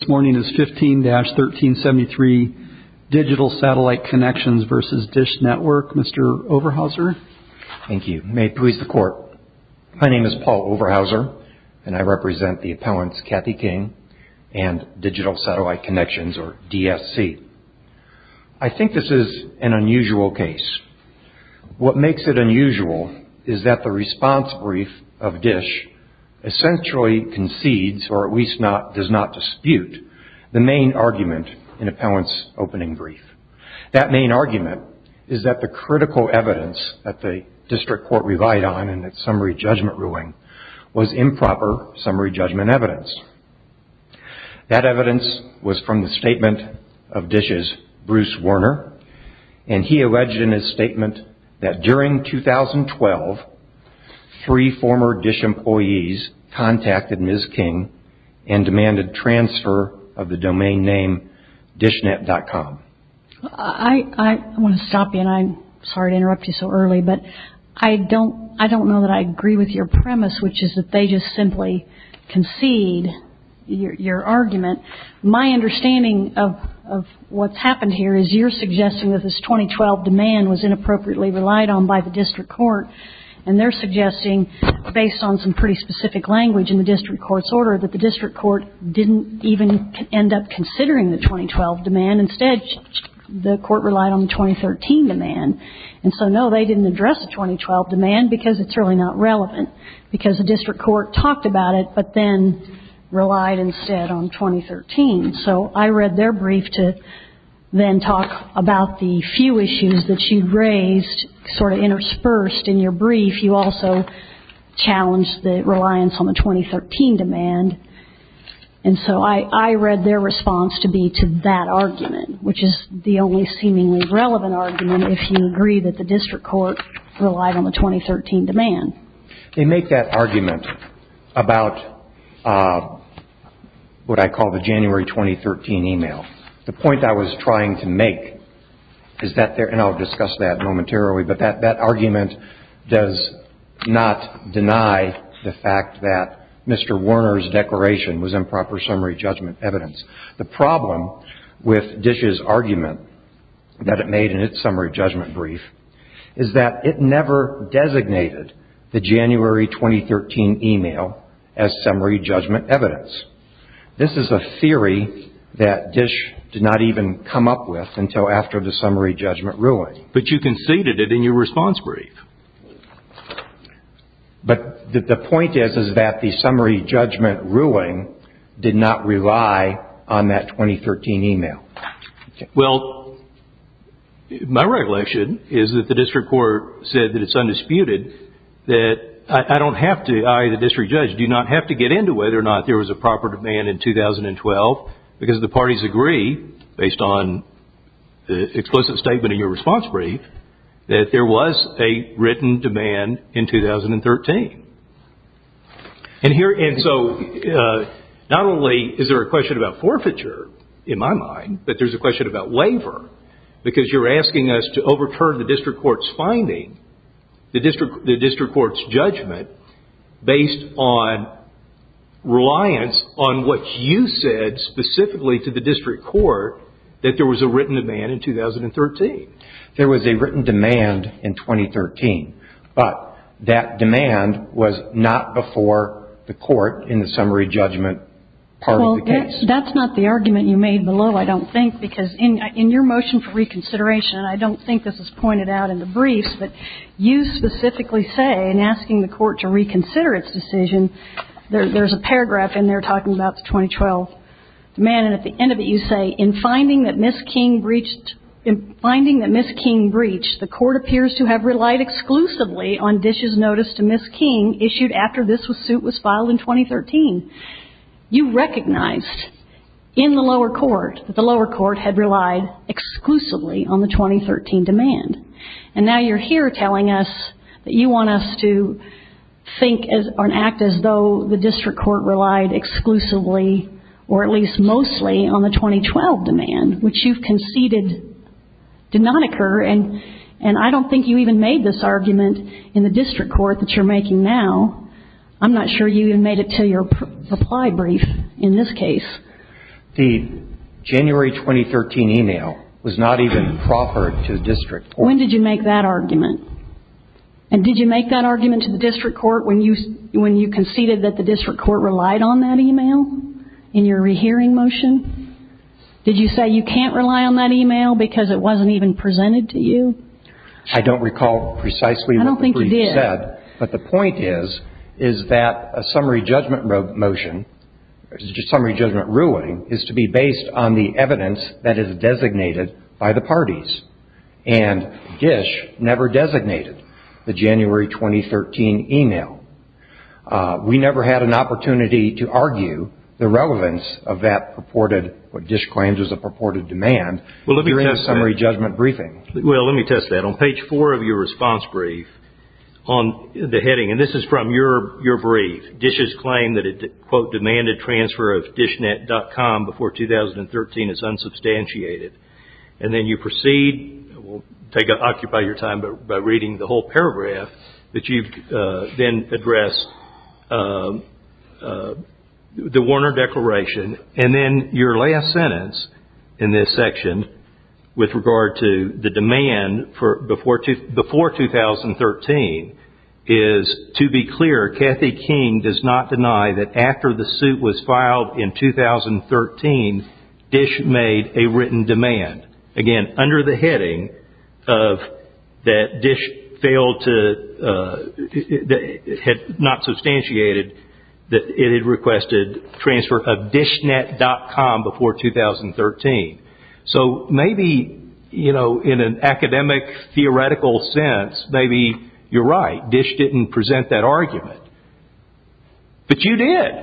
This morning is 15-1373 Digital Satellite Connections v. Dish Network. Mr. Overhauser. Thank you. May it please the Court. My name is Paul Overhauser, and I represent the appellants Kathy King and Digital Satellite Connections, or DSC. I think this is an unusual case. What makes it unusual is that the response brief of Dish essentially concedes, or at least does not dispute, the main argument in appellant's opening brief. That main argument is that the critical evidence that the district court relied on in its summary judgment ruling was improper summary judgment evidence. That evidence was from the statement of Dish's Bruce Werner, and he alleged in his statement that during 2012, three former Dish employees contacted Ms. King and demanded transfer of the domain name Dishnet.com. I want to stop you, and I'm sorry to interrupt you so early, but I don't know that I agree with your premise, which is that they just simply concede your argument. My understanding of what's happened here is you're suggesting that this 2012 demand was inappropriately relied on by the district court, and they're suggesting, based on some pretty specific language in the district court's order, that the district court didn't even end up considering the 2012 demand. Instead, the court relied on the 2013 demand. And so, no, they didn't address the 2012 demand because it's really not relevant, because the district court talked about it but then relied instead on 2013. So I read their brief to then talk about the few issues that you raised, sort of interspersed in your brief. You also challenged the reliance on the 2013 demand, and so I read their response to be to that argument, which is the only seemingly relevant argument if you agree that the district court relied on the 2013 demand. They make that argument about what I call the January 2013 email. The point I was trying to make is that there – and I'll discuss that momentarily – but that argument does not deny the fact that Mr. Warner's declaration was improper summary judgment evidence. The problem with Dish's argument that it made in its summary judgment brief is that it never designated the January 2013 email as summary judgment evidence. This is a theory that Dish did not even come up with until after the summary judgment ruling. But you conceded it in your response brief. But the point is that the summary judgment ruling did not rely on that 2013 email. Well, my regulation is that the district court said that it's undisputed that I, the district judge, do not have to get into whether or not there was a proper demand in 2012, because the parties agree, based on the explicit statement in your response brief, that there was a written demand in 2013. And so, not only is there a question about forfeiture, in my mind, but there's a question about labor. Because you're asking us to overturn the district court's finding, the district court's judgment, based on reliance on what you said specifically to the district court that there was a written demand in 2013. There was a written demand in 2013. But that demand was not before the court in the summary judgment part of the case. Well, that's not the argument you made below, I don't think, because in your motion for reconsideration, and I don't think this was pointed out in the briefs, but you specifically say in asking the court to reconsider its decision, there's a paragraph in there talking about the 2012 demand. And at the end of it, you say, in finding that Ms. King breached, in finding that Ms. King breached, the court appears to have relied exclusively on dishes noticed to Ms. King issued after this suit was filed in 2013. You recognized in the lower court that the lower court had relied exclusively on the 2013 demand. And now you're here telling us that you want us to think or act as though the district court relied exclusively, or at least mostly, on the 2012 demand, which you've conceded did not occur. And I don't think you even made this argument in the district court that you're making now. I'm not sure you even made it to your supply brief in this case. The January 2013 email was not even proffered to the district court. When did you make that argument? And did you make that argument to the district court when you conceded that the district court relied on that email in your rehearing motion? Did you say you can't rely on that email because it wasn't even presented to you? I don't recall precisely what the brief said. I don't think you did. But the point is, is that a summary judgment motion, summary judgment ruling, is to be based on the evidence that is designated by the parties. And DISH never designated the January 2013 email. We never had an opportunity to argue the relevance of that purported, what DISH claims is a purported demand, during the summary judgment briefing. Well, let me test that. On page four of your response brief, on the heading, and this is from your brief, DISH's claim that it, quote, demanded transfer of DISHnet.com before 2013 is unsubstantiated. And then you proceed, we'll occupy your time by reading the whole paragraph, that you then address the Warner Declaration. And then your last sentence in this section with regard to the demand before 2013 is, to be clear, Kathy King does not deny that after the suit was filed in 2013, DISH made a written demand. Again, under the heading of that DISH failed to, had not substantiated, that it had requested transfer of DISHnet.com before 2013. So maybe, you know, in an academic theoretical sense, maybe you're right. DISH didn't present that argument. But you did.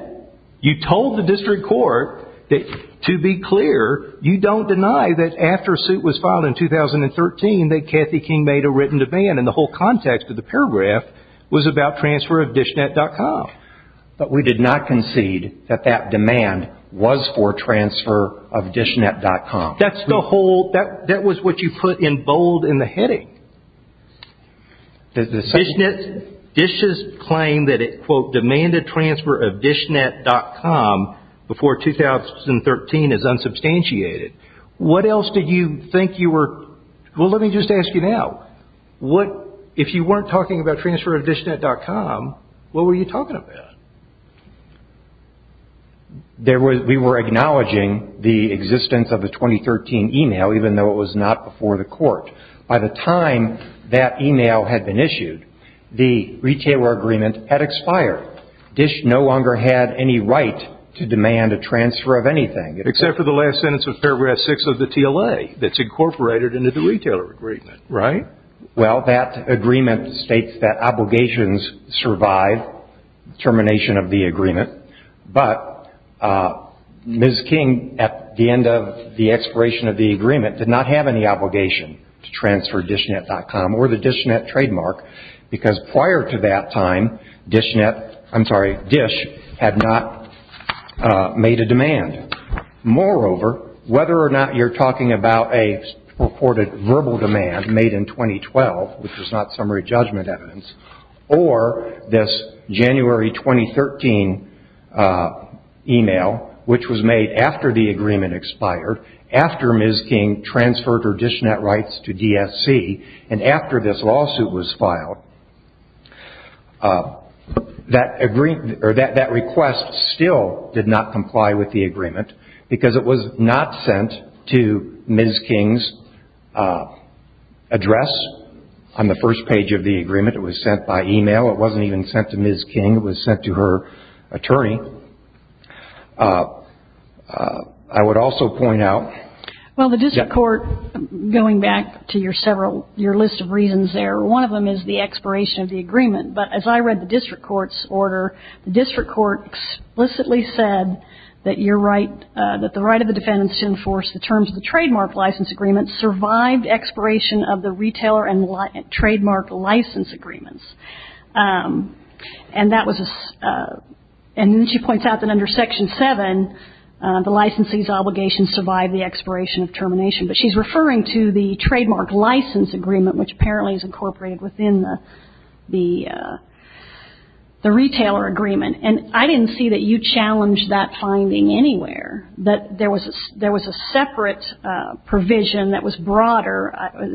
You told the district court that, to be clear, you don't deny that after a suit was filed in 2013 that Kathy King made a written demand. And the whole context of the paragraph was about transfer of DISHnet.com. But we did not concede that that demand was for transfer of DISHnet.com. That's the whole, that was what you put in bold in the heading. DISHnet, DISH's claim that it, quote, demanded transfer of DISHnet.com before 2013 is unsubstantiated. What else did you think you were, well, let me just ask you now. What, if you weren't talking about transfer of DISHnet.com, what were you talking about? There was, we were acknowledging the existence of the 2013 email, even though it was not before the court. By the time that email had been issued, the retailer agreement had expired. DISH no longer had any right to demand a transfer of anything. Except for the last sentence of paragraph 6 of the TLA that's incorporated into the retailer agreement, right? Well, that agreement states that obligations survive termination of the agreement. But Ms. King, at the end of the expiration of the agreement, did not have any obligation to transfer DISHnet.com or the DISHnet trademark, because prior to that time, DISHnet, I'm sorry, DISH had not made a demand. Moreover, whether or not you're talking about a purported verbal demand made in 2012, which was not summary judgment evidence, or this January 2013 email, which was made after the agreement expired, after Ms. King transferred her DISHnet rights to DSC, and after this lawsuit was filed, that request still did not comply with the agreement, because it was not sent to Ms. King's address on the first page of the agreement. It was sent by email. It wasn't even sent to Ms. King. It was sent to her attorney. I would also point out — Well, the district court, going back to your list of reasons there, one of them is the expiration of the agreement. But as I read the district court's order, the district court explicitly said that you're right, that the right of the defendant to enforce the terms of the trademark license agreement survived expiration of the retailer and trademark license agreements. And that was a — and then she points out that under Section 7, the licensee's obligation survived the expiration of termination. But she's referring to the trademark license agreement, which apparently is incorporated within the retailer agreement. And I didn't see that you challenged that finding anywhere, that there was a separate provision that was broader,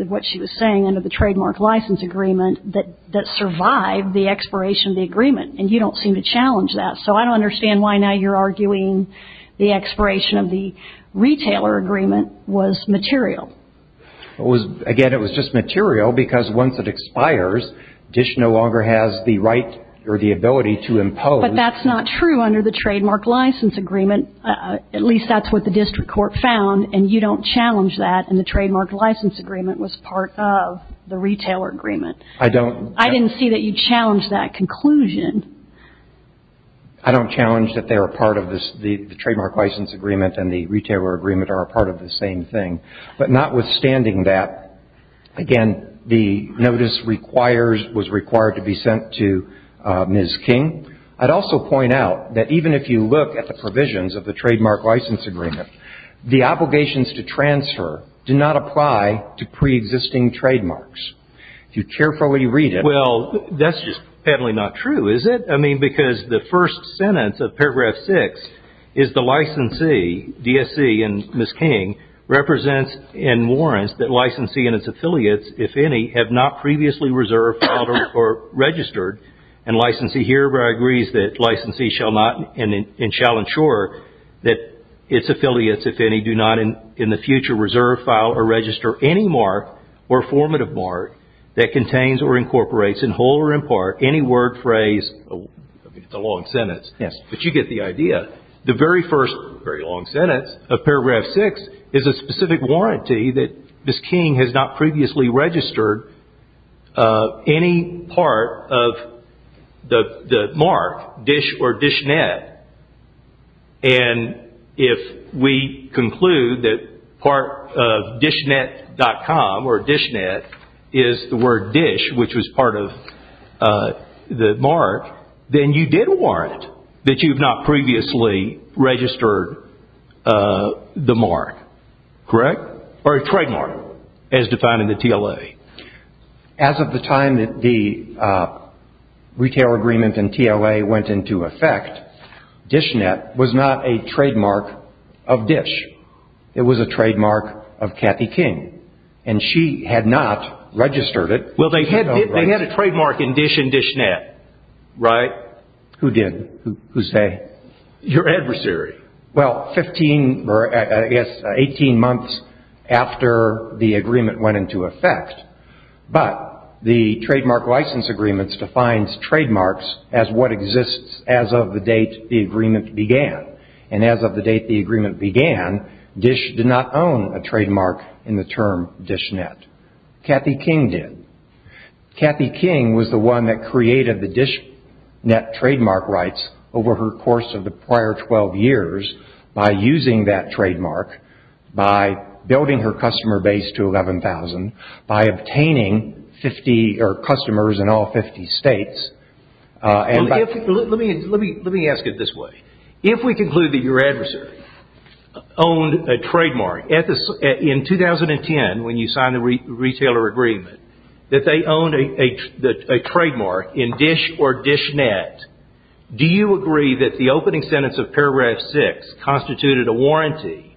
what she was saying under the trademark license agreement, that survived the expiration of the agreement. And you don't seem to challenge that. So I don't understand why now you're arguing the expiration of the retailer agreement was material. It was — again, it was just material because once it expires, DISH no longer has the right or the ability to impose — But that's not true under the trademark license agreement. At least that's what the district court found. And you don't challenge that. And the trademark license agreement was part of the retailer agreement. I don't — I don't challenge that they were part of this — the trademark license agreement and the retailer agreement are a part of the same thing. But notwithstanding that, again, the notice requires — was required to be sent to Ms. King. I'd also point out that even if you look at the provisions of the trademark license agreement, the obligations to transfer do not apply to preexisting trademarks. If you carefully read it — Well, that's just apparently not true, is it? I mean, because the first sentence of paragraph six is the licensee, DSC and Ms. King, represents and warrants that licensee and its affiliates, if any, have not previously reserved, filed, or registered. And licensee here agrees that licensee shall not and shall ensure that its affiliates, if any, do not in the future reserve, file, or register any mark or formative mark that contains or incorporates in whole or in part any word, phrase — I mean, it's a long sentence. Yes. But you get the idea. The very first very long sentence of paragraph six is a specific warranty that Ms. King has not previously registered any part of the mark, dish, or dishnet. And if we conclude that part of dishnet.com, or dishnet, is the word dish, which was part of the mark, then you did warrant that you have not previously registered the mark. Correct? Or a trademark, as defined in the TLA. As of the time that the retail agreement in TLA went into effect, dishnet was not a trademark of Dish. It was a trademark of Kathy King. And she had not registered it. Well, they had a trademark in Dish and Dishnet, right? Who did? Who's they? Your adversary. Well, 15 or, I guess, 18 months after the agreement went into effect. But the trademark license agreements defines trademarks as what exists as of the date the agreement began. And as of the date the agreement began, Dish did not own a trademark in the term dishnet. Kathy King did. Kathy King was the one that created the dishnet trademark rights over her course of the prior 12 years by using that trademark, by building her customer base to 11,000, by obtaining customers in all 50 states. Let me ask it this way. If we conclude that your adversary owned a trademark in 2010 when you signed the retailer agreement, that they owned a trademark in Dish or Dishnet, do you agree that the opening sentence of paragraph 6 constituted a warranty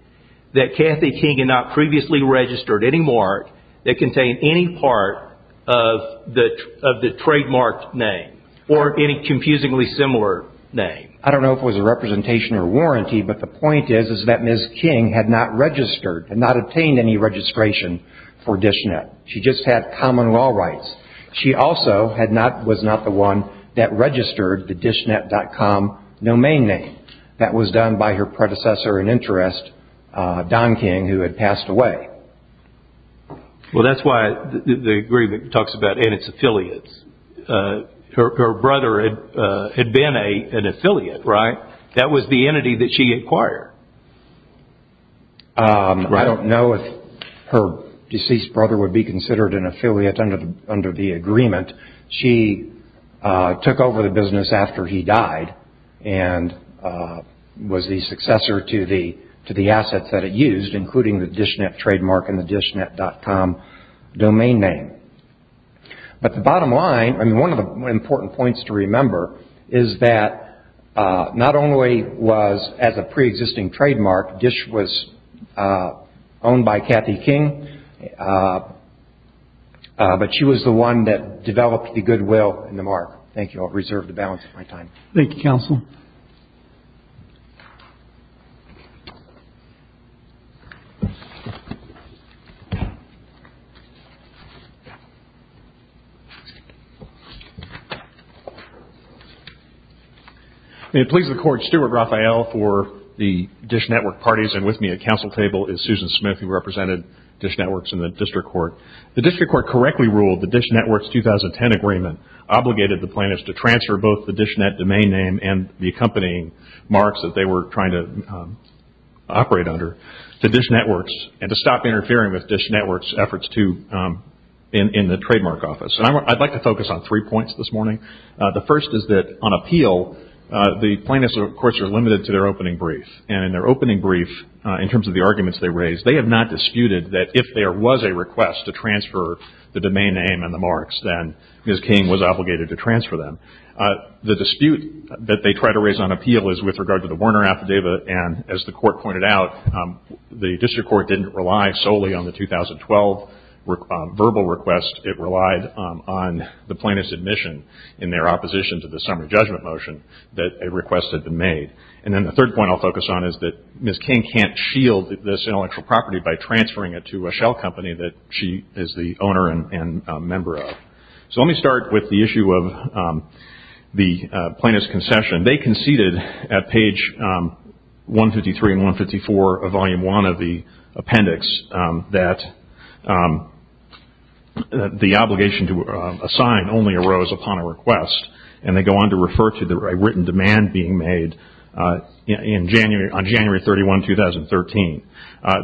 that Kathy King had not previously registered any mark that contained any part of the trademarked name or any confusingly similar name? I don't know if it was a representation or warranty, but the point is that Ms. King had not registered and not obtained any registration for Dishnet. She just had common law rights. She also was not the one that registered the Dishnet.com domain name. That was done by her predecessor in interest, Don King, who had passed away. Well, that's why the agreement talks about and its affiliates. Her brother had been an affiliate, right? That was the entity that she acquired. I don't know if her deceased brother would be considered an affiliate under the agreement. She took over the business after he died and was the successor to the assets that it used, including the Dishnet trademark and the Dishnet.com domain name. But the bottom line, and one of the important points to remember, is that not only was, as a preexisting trademark, Dish was owned by Kathy King, but she was the one that developed the goodwill and the mark. Thank you. I'll reserve the balance of my time. Thank you, counsel. I'm going to please the Court's Steward, Rafael, for the Dish Network parties. And with me at counsel table is Susan Smith, who represented Dish Networks in the District Court. The District Court correctly ruled the Dish Networks 2010 agreement obligated the plaintiffs to transfer both the Dishnet domain name and the accompanying marks that they were trying to operate under to Dish Networks and to stop interfering with Dish Networks' efforts in the trademark office. I'd like to focus on three points this morning. The first is that on appeal, the plaintiffs, of course, are limited to their opening brief. And in their opening brief, in terms of the arguments they raised, they have not disputed that if there was a request to transfer the domain name and the marks, then Ms. King was obligated to transfer them. The dispute that they try to raise on appeal is with regard to the Werner affidavit. And as the Court pointed out, the District Court didn't rely solely on the 2012 verbal request. It relied on the plaintiff's admission in their opposition to the summary judgment motion that a request had been made. And then the third point I'll focus on is that Ms. King can't shield this intellectual property by transferring it to a shell company that she is the owner and member of. So let me start with the issue of the plaintiff's concession. They conceded at page 153 and 154 of Volume I of the appendix that the obligation to assign only arose upon a request, and they go on to refer to the written demand being made on January 31, 2013.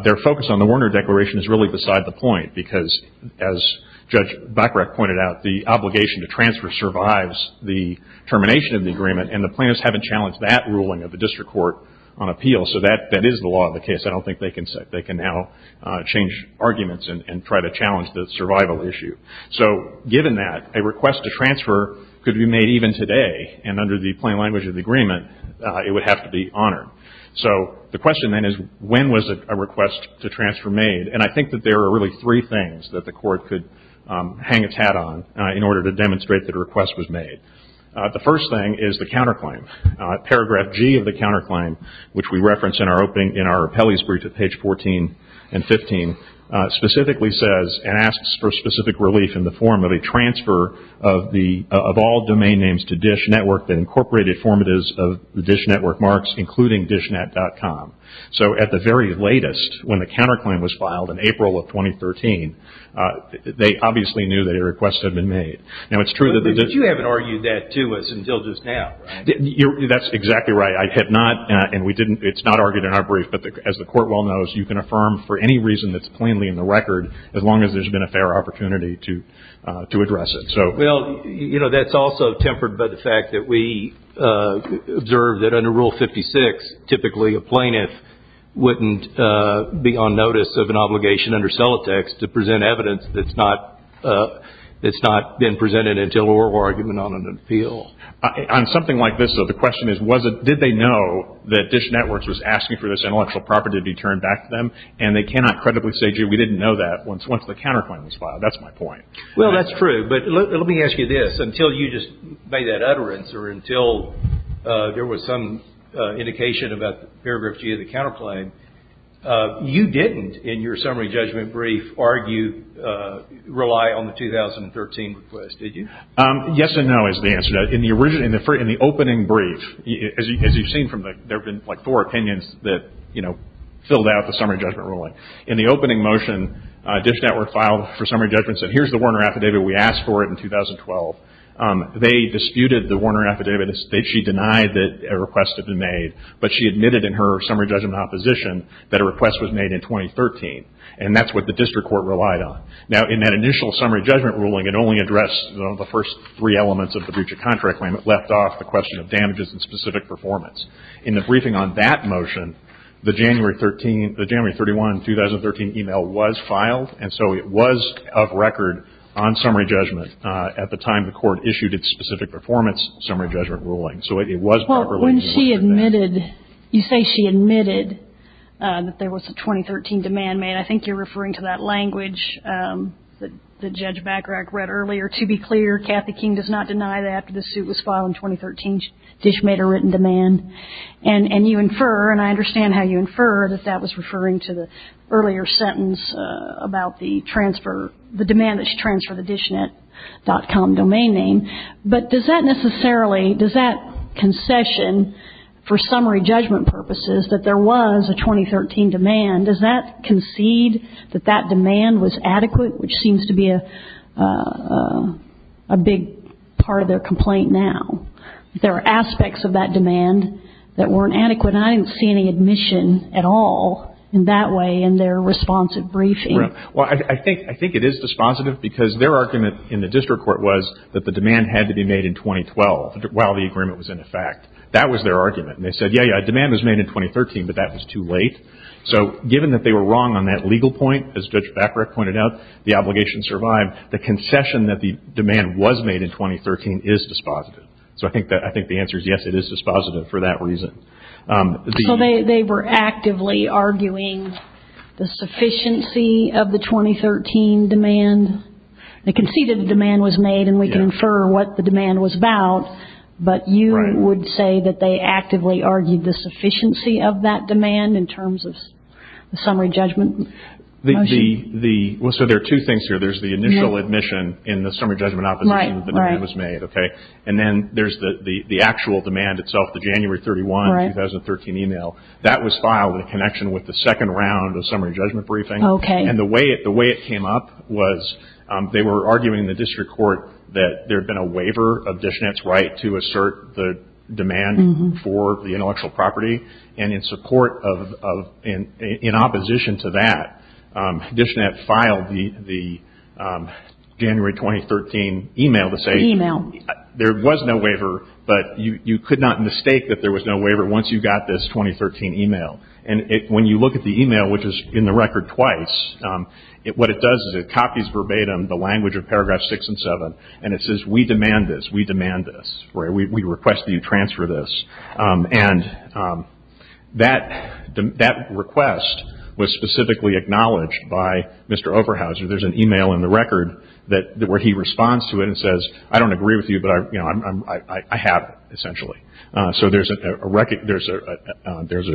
Their focus on the Werner Declaration is really beside the point because, as Judge Bachrach pointed out, the obligation to transfer survives the termination of the agreement, and the plaintiffs haven't challenged that ruling of the District Court on appeal. So that is the law of the case. I don't think they can now change arguments and try to challenge the survival issue. So given that, a request to transfer could be made even today, and under the plain language of the agreement it would have to be honored. So the question then is when was a request to transfer made? And I think that there are really three things that the Court could hang its hat on in order to demonstrate that a request was made. The first thing is the counterclaim. Paragraph G of the counterclaim, which we reference in our appellee's brief at page 14 and 15, specifically says and asks for specific relief in the form of a transfer of all domain names to DISH Network that incorporated formatives of the DISH Network marks, including DISHnet.com. So at the very latest, when the counterclaim was filed in April of 2013, they obviously knew that a request had been made. But you haven't argued that to us until just now. That's exactly right. It's not argued in our brief, but as the Court well knows, you can affirm for any reason that's plainly in the record as long as there's been a fair opportunity to address it. Well, you know, that's also tempered by the fact that we observed that under Rule 56, typically a plaintiff wouldn't be on notice of an obligation under Celotex to present evidence that's not been presented until oral argument on an appeal. On something like this, though, the question is did they know that DISH Networks was asking for this intellectual property to be turned back to them? And they cannot credibly say, gee, we didn't know that once the counterclaim was filed. That's my point. Well, that's true. But let me ask you this. Until you just made that utterance or until there was some indication about Paragraph G of the counterclaim, you didn't, in your summary judgment brief, rely on the 2013 request, did you? Yes and no is the answer. In the opening brief, as you've seen, there have been like four opinions that filled out the summary judgment ruling. In the opening motion, DISH Network filed for summary judgment and said, here's the Warner affidavit. We asked for it in 2012. They disputed the Warner affidavit. She denied that a request had been made. But she admitted in her summary judgment opposition that a request was made in 2013. And that's what the district court relied on. Now, in that initial summary judgment ruling, it only addressed the first three elements of the Buccia contract claim. It left off the question of damages and specific performance. In the briefing on that motion, the January 13th – the January 31, 2013 email was filed. And so it was of record on summary judgment at the time the court issued its specific performance summary judgment ruling. So it was properly – Well, when she admitted – you say she admitted that there was a 2013 demand made. I think you're referring to that language that Judge Bachrach read earlier. To be clear, Kathy King does not deny that after the suit was filed in 2013, DISH made a written demand. And you infer – and I understand how you infer that that was referring to the earlier sentence about the transfer – the demand that she transferred the DISHnet.com domain name. But does that necessarily – does that concession for summary judgment purposes that there was a 2013 demand, does that concede that that demand was adequate, which seems to be a big part of their complaint now? There are aspects of that demand that weren't adequate. And I didn't see any admission at all in that way in their responsive briefing. Well, I think it is dispositive because their argument in the district court was that the demand had to be made in 2012 while the agreement was in effect. That was their argument. And they said, yeah, yeah, demand was made in 2013, but that was too late. So given that they were wrong on that legal point, as Judge Bachrach pointed out, the obligation survived. The concession that the demand was made in 2013 is dispositive. So I think the answer is yes, it is dispositive for that reason. So they were actively arguing the sufficiency of the 2013 demand. They conceded the demand was made, and we can infer what the demand was about. But you would say that they actively argued the sufficiency of that demand in terms of the summary judgment? So there are two things here. There's the initial admission in the summary judgment opposition that the demand was made. And then there's the actual demand itself, the January 31, 2013 email. That was filed in connection with the second round of summary judgment briefing. And the way it came up was they were arguing in the district court that there had been a waiver of Dishnet's right to assert the demand for the intellectual property. And in support of, in opposition to that, Dishnet filed the January 2013 email to say there was no waiver, but you could not mistake that there was no waiver once you got this 2013 email. And when you look at the email, which is in the record twice, what it does is it copies verbatim the language of Paragraphs 6 and 7, and it says we demand this, we demand this, we request that you transfer this. And that request was specifically acknowledged by Mr. Oberhauser. There's an email in the record where he responds to it and says, I don't agree with you, but I have it, essentially. So there's a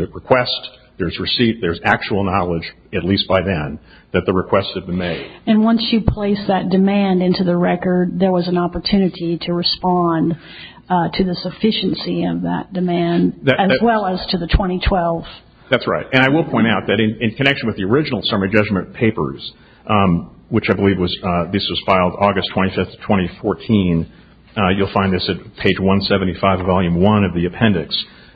request, there's receipt, there's actual knowledge, at least by then, that the request had been made. And once you place that demand into the record, there was an opportunity to respond to the sufficiency of that demand, as well as to the 2012. That's right. And I will point out that in connection with the original summary judgment papers, which I believe this was filed August 25, 2014, you'll find this at page 175, Volume 1 of the appendix.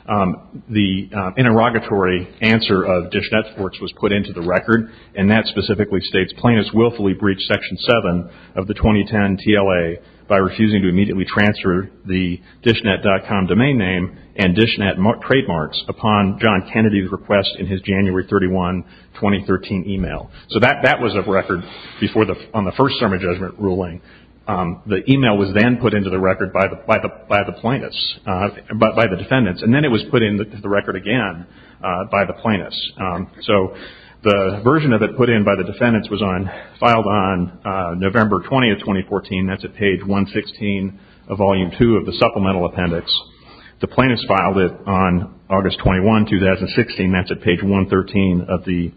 The interrogatory answer of DishNet's works was put into the record, and that specifically states plaintiffs willfully breached Section 7 of the 2010 TLA by refusing to immediately transfer the DishNet.com domain name and DishNet trademarks upon John Kennedy's request in his January 31, 2013 email. So that was a record on the first summary judgment ruling. The email was then put into the record by the defendants, and then it was put into the record again by the plaintiffs. So the version of it put in by the defendants was filed on November 20, 2014. That's at page 116 of Volume 2 of the supplemental appendix. The plaintiffs filed it on August 21, 2016. That's at page 113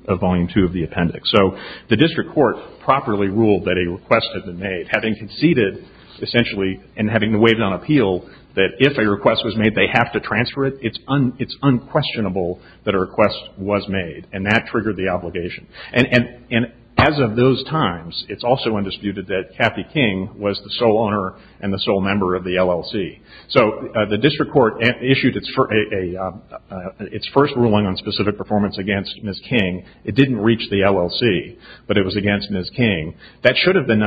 of Volume 2 of the appendix. So the district court properly ruled that a request had been made, having conceded, essentially, and having waived on appeal that if a request was made, they have to transfer it. It's unquestionable that a request was made, and that triggered the obligation. And as of those times, it's also undisputed that Kathy King was the sole owner and the sole member of the LLC. So the district court issued its first ruling on specific performance against Ms. King. It didn't reach the LLC, but it was against Ms. King. That should have been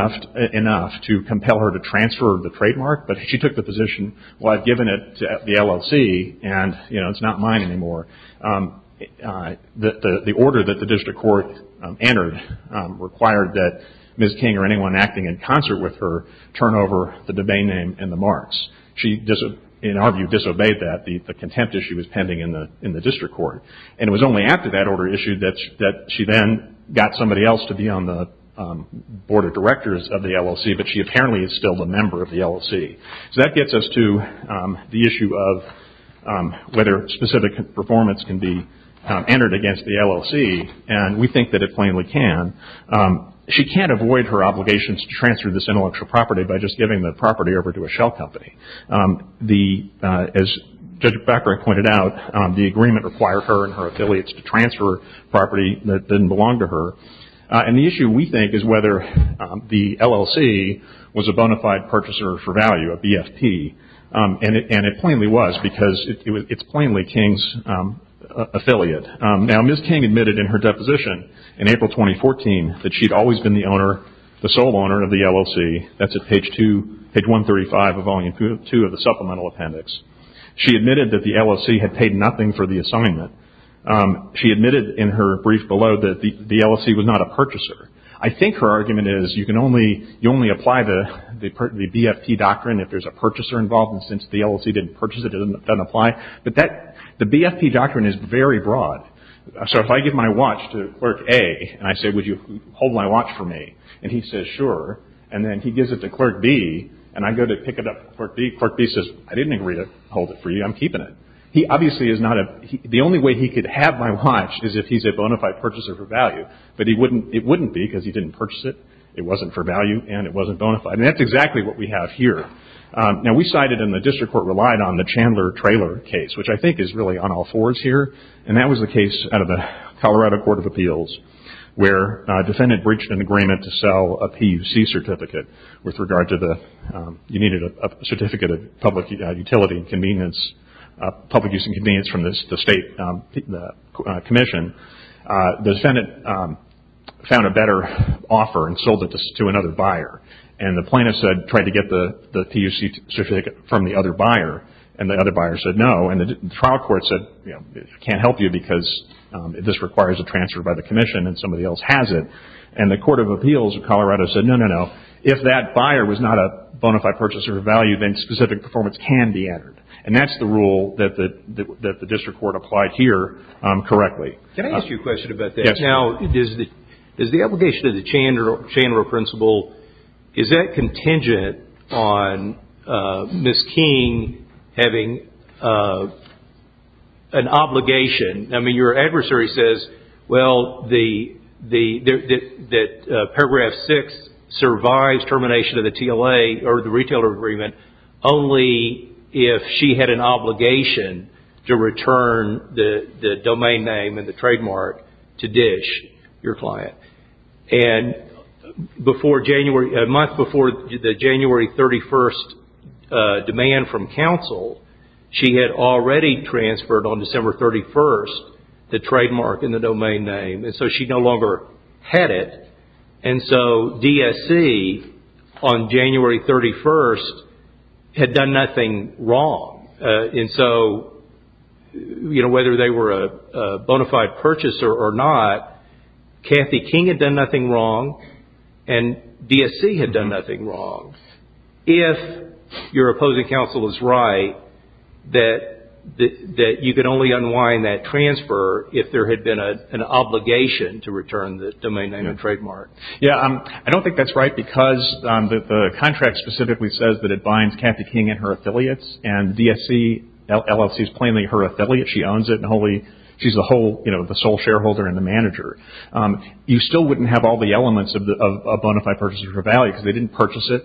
enough to compel her to transfer the trademark, but she took the position, well, I've given it to the LLC, and, you know, it's not mine anymore. The order that the district court entered required that Ms. King or anyone acting in concert with her turn over the domain name and the marks. She, in our view, disobeyed that. The contempt issue was pending in the district court. And it was only after that order issued that she then got somebody else to be on the board of directors of the LLC, but she apparently is still a member of the LLC. So that gets us to the issue of whether specific performance can be entered against the LLC, and we think that it plainly can. She can't avoid her obligations to transfer this intellectual property by just giving the property over to a shell company. As Judge Becker pointed out, the agreement required her and her affiliates to transfer property that didn't belong to her. And the issue, we think, is whether the LLC was a bona fide purchaser for value, a BFP, and it plainly was because it's plainly King's affiliate. Now, Ms. King admitted in her deposition in April 2014 that she'd always been the sole owner of the LLC. That's at page 135 of Volume 2 of the Supplemental Appendix. She admitted that the LLC had paid nothing for the assignment. She admitted in her brief below that the LLC was not a purchaser. I think her argument is you can only apply the BFP doctrine if there's a purchaser involved, and since the LLC didn't purchase it, it doesn't apply. But the BFP doctrine is very broad. So if I give my watch to Clerk A and I say, Would you hold my watch for me? And he says, Sure. And then he gives it to Clerk B, and I go to pick it up. Clerk B says, I didn't agree to hold it for you. I'm keeping it. He obviously is not a – the only way he could have my watch is if he's a bona fide purchaser for value. But he wouldn't – it wouldn't be because he didn't purchase it. It wasn't for value, and it wasn't bona fide. And that's exactly what we have here. Now, we cited in the district court relied on the Chandler trailer case, which I think is really on all fours here. And that was the case out of the Colorado Court of Appeals, where a defendant breached an agreement to sell a PUC certificate with regard to the – you needed a certificate of public utility and convenience – public use and convenience from the state commission. The defendant found a better offer and sold it to another buyer. And the plaintiff said – tried to get the PUC certificate from the other buyer, and the other buyer said no. And the trial court said, you know, can't help you because this requires a transfer by the commission and somebody else has it. And the Court of Appeals of Colorado said no, no, no. If that buyer was not a bona fide purchaser of value, then specific performance can be entered. And that's the rule that the district court applied here correctly. Can I ask you a question about that? Yes. Now, is the obligation of the Chandler principle, is that contingent on Ms. King having an obligation? I mean, your adversary says, well, that paragraph 6 survives termination of the TLA or the retailer agreement only if she had an obligation to return the domain name and the trademark to DISH, your client. And before January – a month before the January 31st demand from counsel, she had already transferred on December 31st the trademark and the domain name, and so she no longer had it. And so DSC on January 31st had done nothing wrong. And so, you know, whether they were a bona fide purchaser or not, Kathy King had done nothing wrong and DSC had done nothing wrong. If your opposing counsel is right that you can only unwind that transfer if there had been an obligation to return the domain name and trademark. Yes. I don't think that's right because the contract specifically says that it binds Kathy King and her affiliates and DSC LLC is plainly her affiliate. She owns it and she's the sole shareholder and the manager. You still wouldn't have all the elements of a bona fide purchaser for value because they didn't purchase it.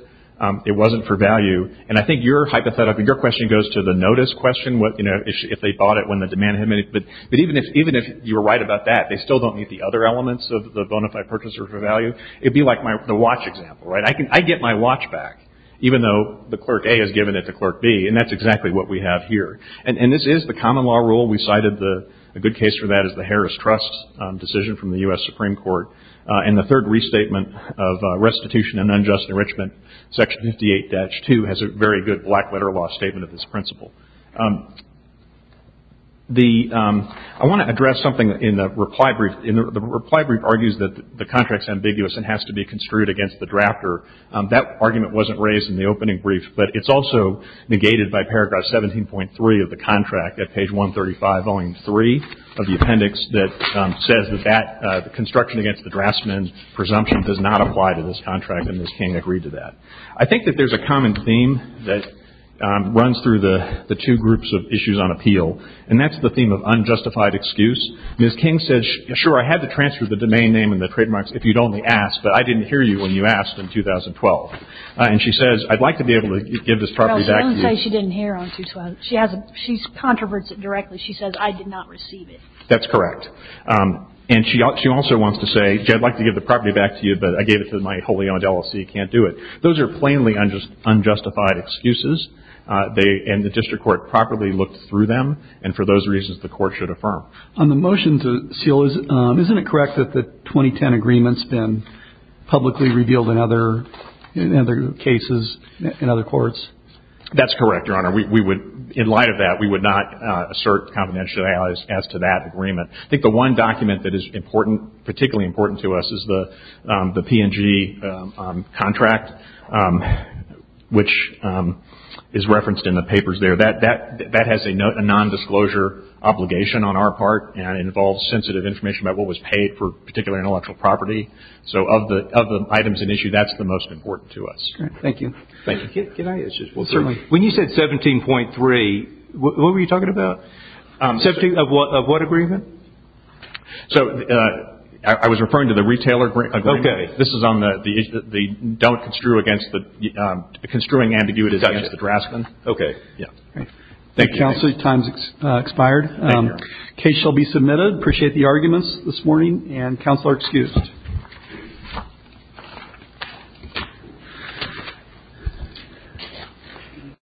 It wasn't for value. And I think your hypothetical – your question goes to the notice question, you know, if they bought it when the demand had met. But even if you were right about that, they still don't need the other elements of the bona fide purchaser for value. It would be like the watch example, right? I get my watch back even though the Clerk A has given it to Clerk B, and that's exactly what we have here. And this is the common law rule. We cited the – a good case for that is the Harris Trust decision from the U.S. Supreme Court. And the third restatement of restitution and unjust enrichment, Section 58-2, has a very good black letter law statement of this principle. The – I want to address something in the reply brief. The reply brief argues that the contract is ambiguous and has to be construed against the drafter. That argument wasn't raised in the opening brief, but it's also negated by Paragraph 17.3 of the contract at page 135-03 of the appendix that says that construction against the draftsman's presumption does not apply to this contract, and this came to agree to that. I think that there's a common theme that runs through the two groups of issues on appeal, and that's the theme of unjustified excuse. Ms. King says, sure, I had to transfer the domain name and the trademarks if you'd only asked, but I didn't hear you when you asked in 2012. And she says, I'd like to be able to give this property back to you. Well, don't say she didn't hear on 2012. She has a – she controverts it directly. She says, I did not receive it. That's correct. And she also wants to say, I'd like to give the property back to you, but I gave it to my holy aunt Ella so you can't do it. Those are plainly unjustified excuses, and the district court properly looked through them, and for those reasons the court should affirm. On the motion to seal, isn't it correct that the 2010 agreement's been publicly revealed in other cases, in other courts? That's correct, Your Honor. We would – in light of that, we would not assert confidentiality as to that agreement. I think the one document that is important, particularly important to us, is the P&G contract, which is referenced in the papers there. That has a non-disclosure obligation on our part, and it involves sensitive information about what was paid for a particular intellectual property. So of the items in issue, that's the most important to us. Thank you. Thank you. Can I – Certainly. When you said 17.3, what were you talking about? 17 – of what agreement? So I was referring to the retailer agreement. Okay. This is on the – the don't construe against the – construing ambiguity against the draftsman. Okay. Yeah. Thank you. Counsel, your time has expired. Thank you, Your Honor. The case shall be submitted. I appreciate the arguments this morning, and counsel are excused.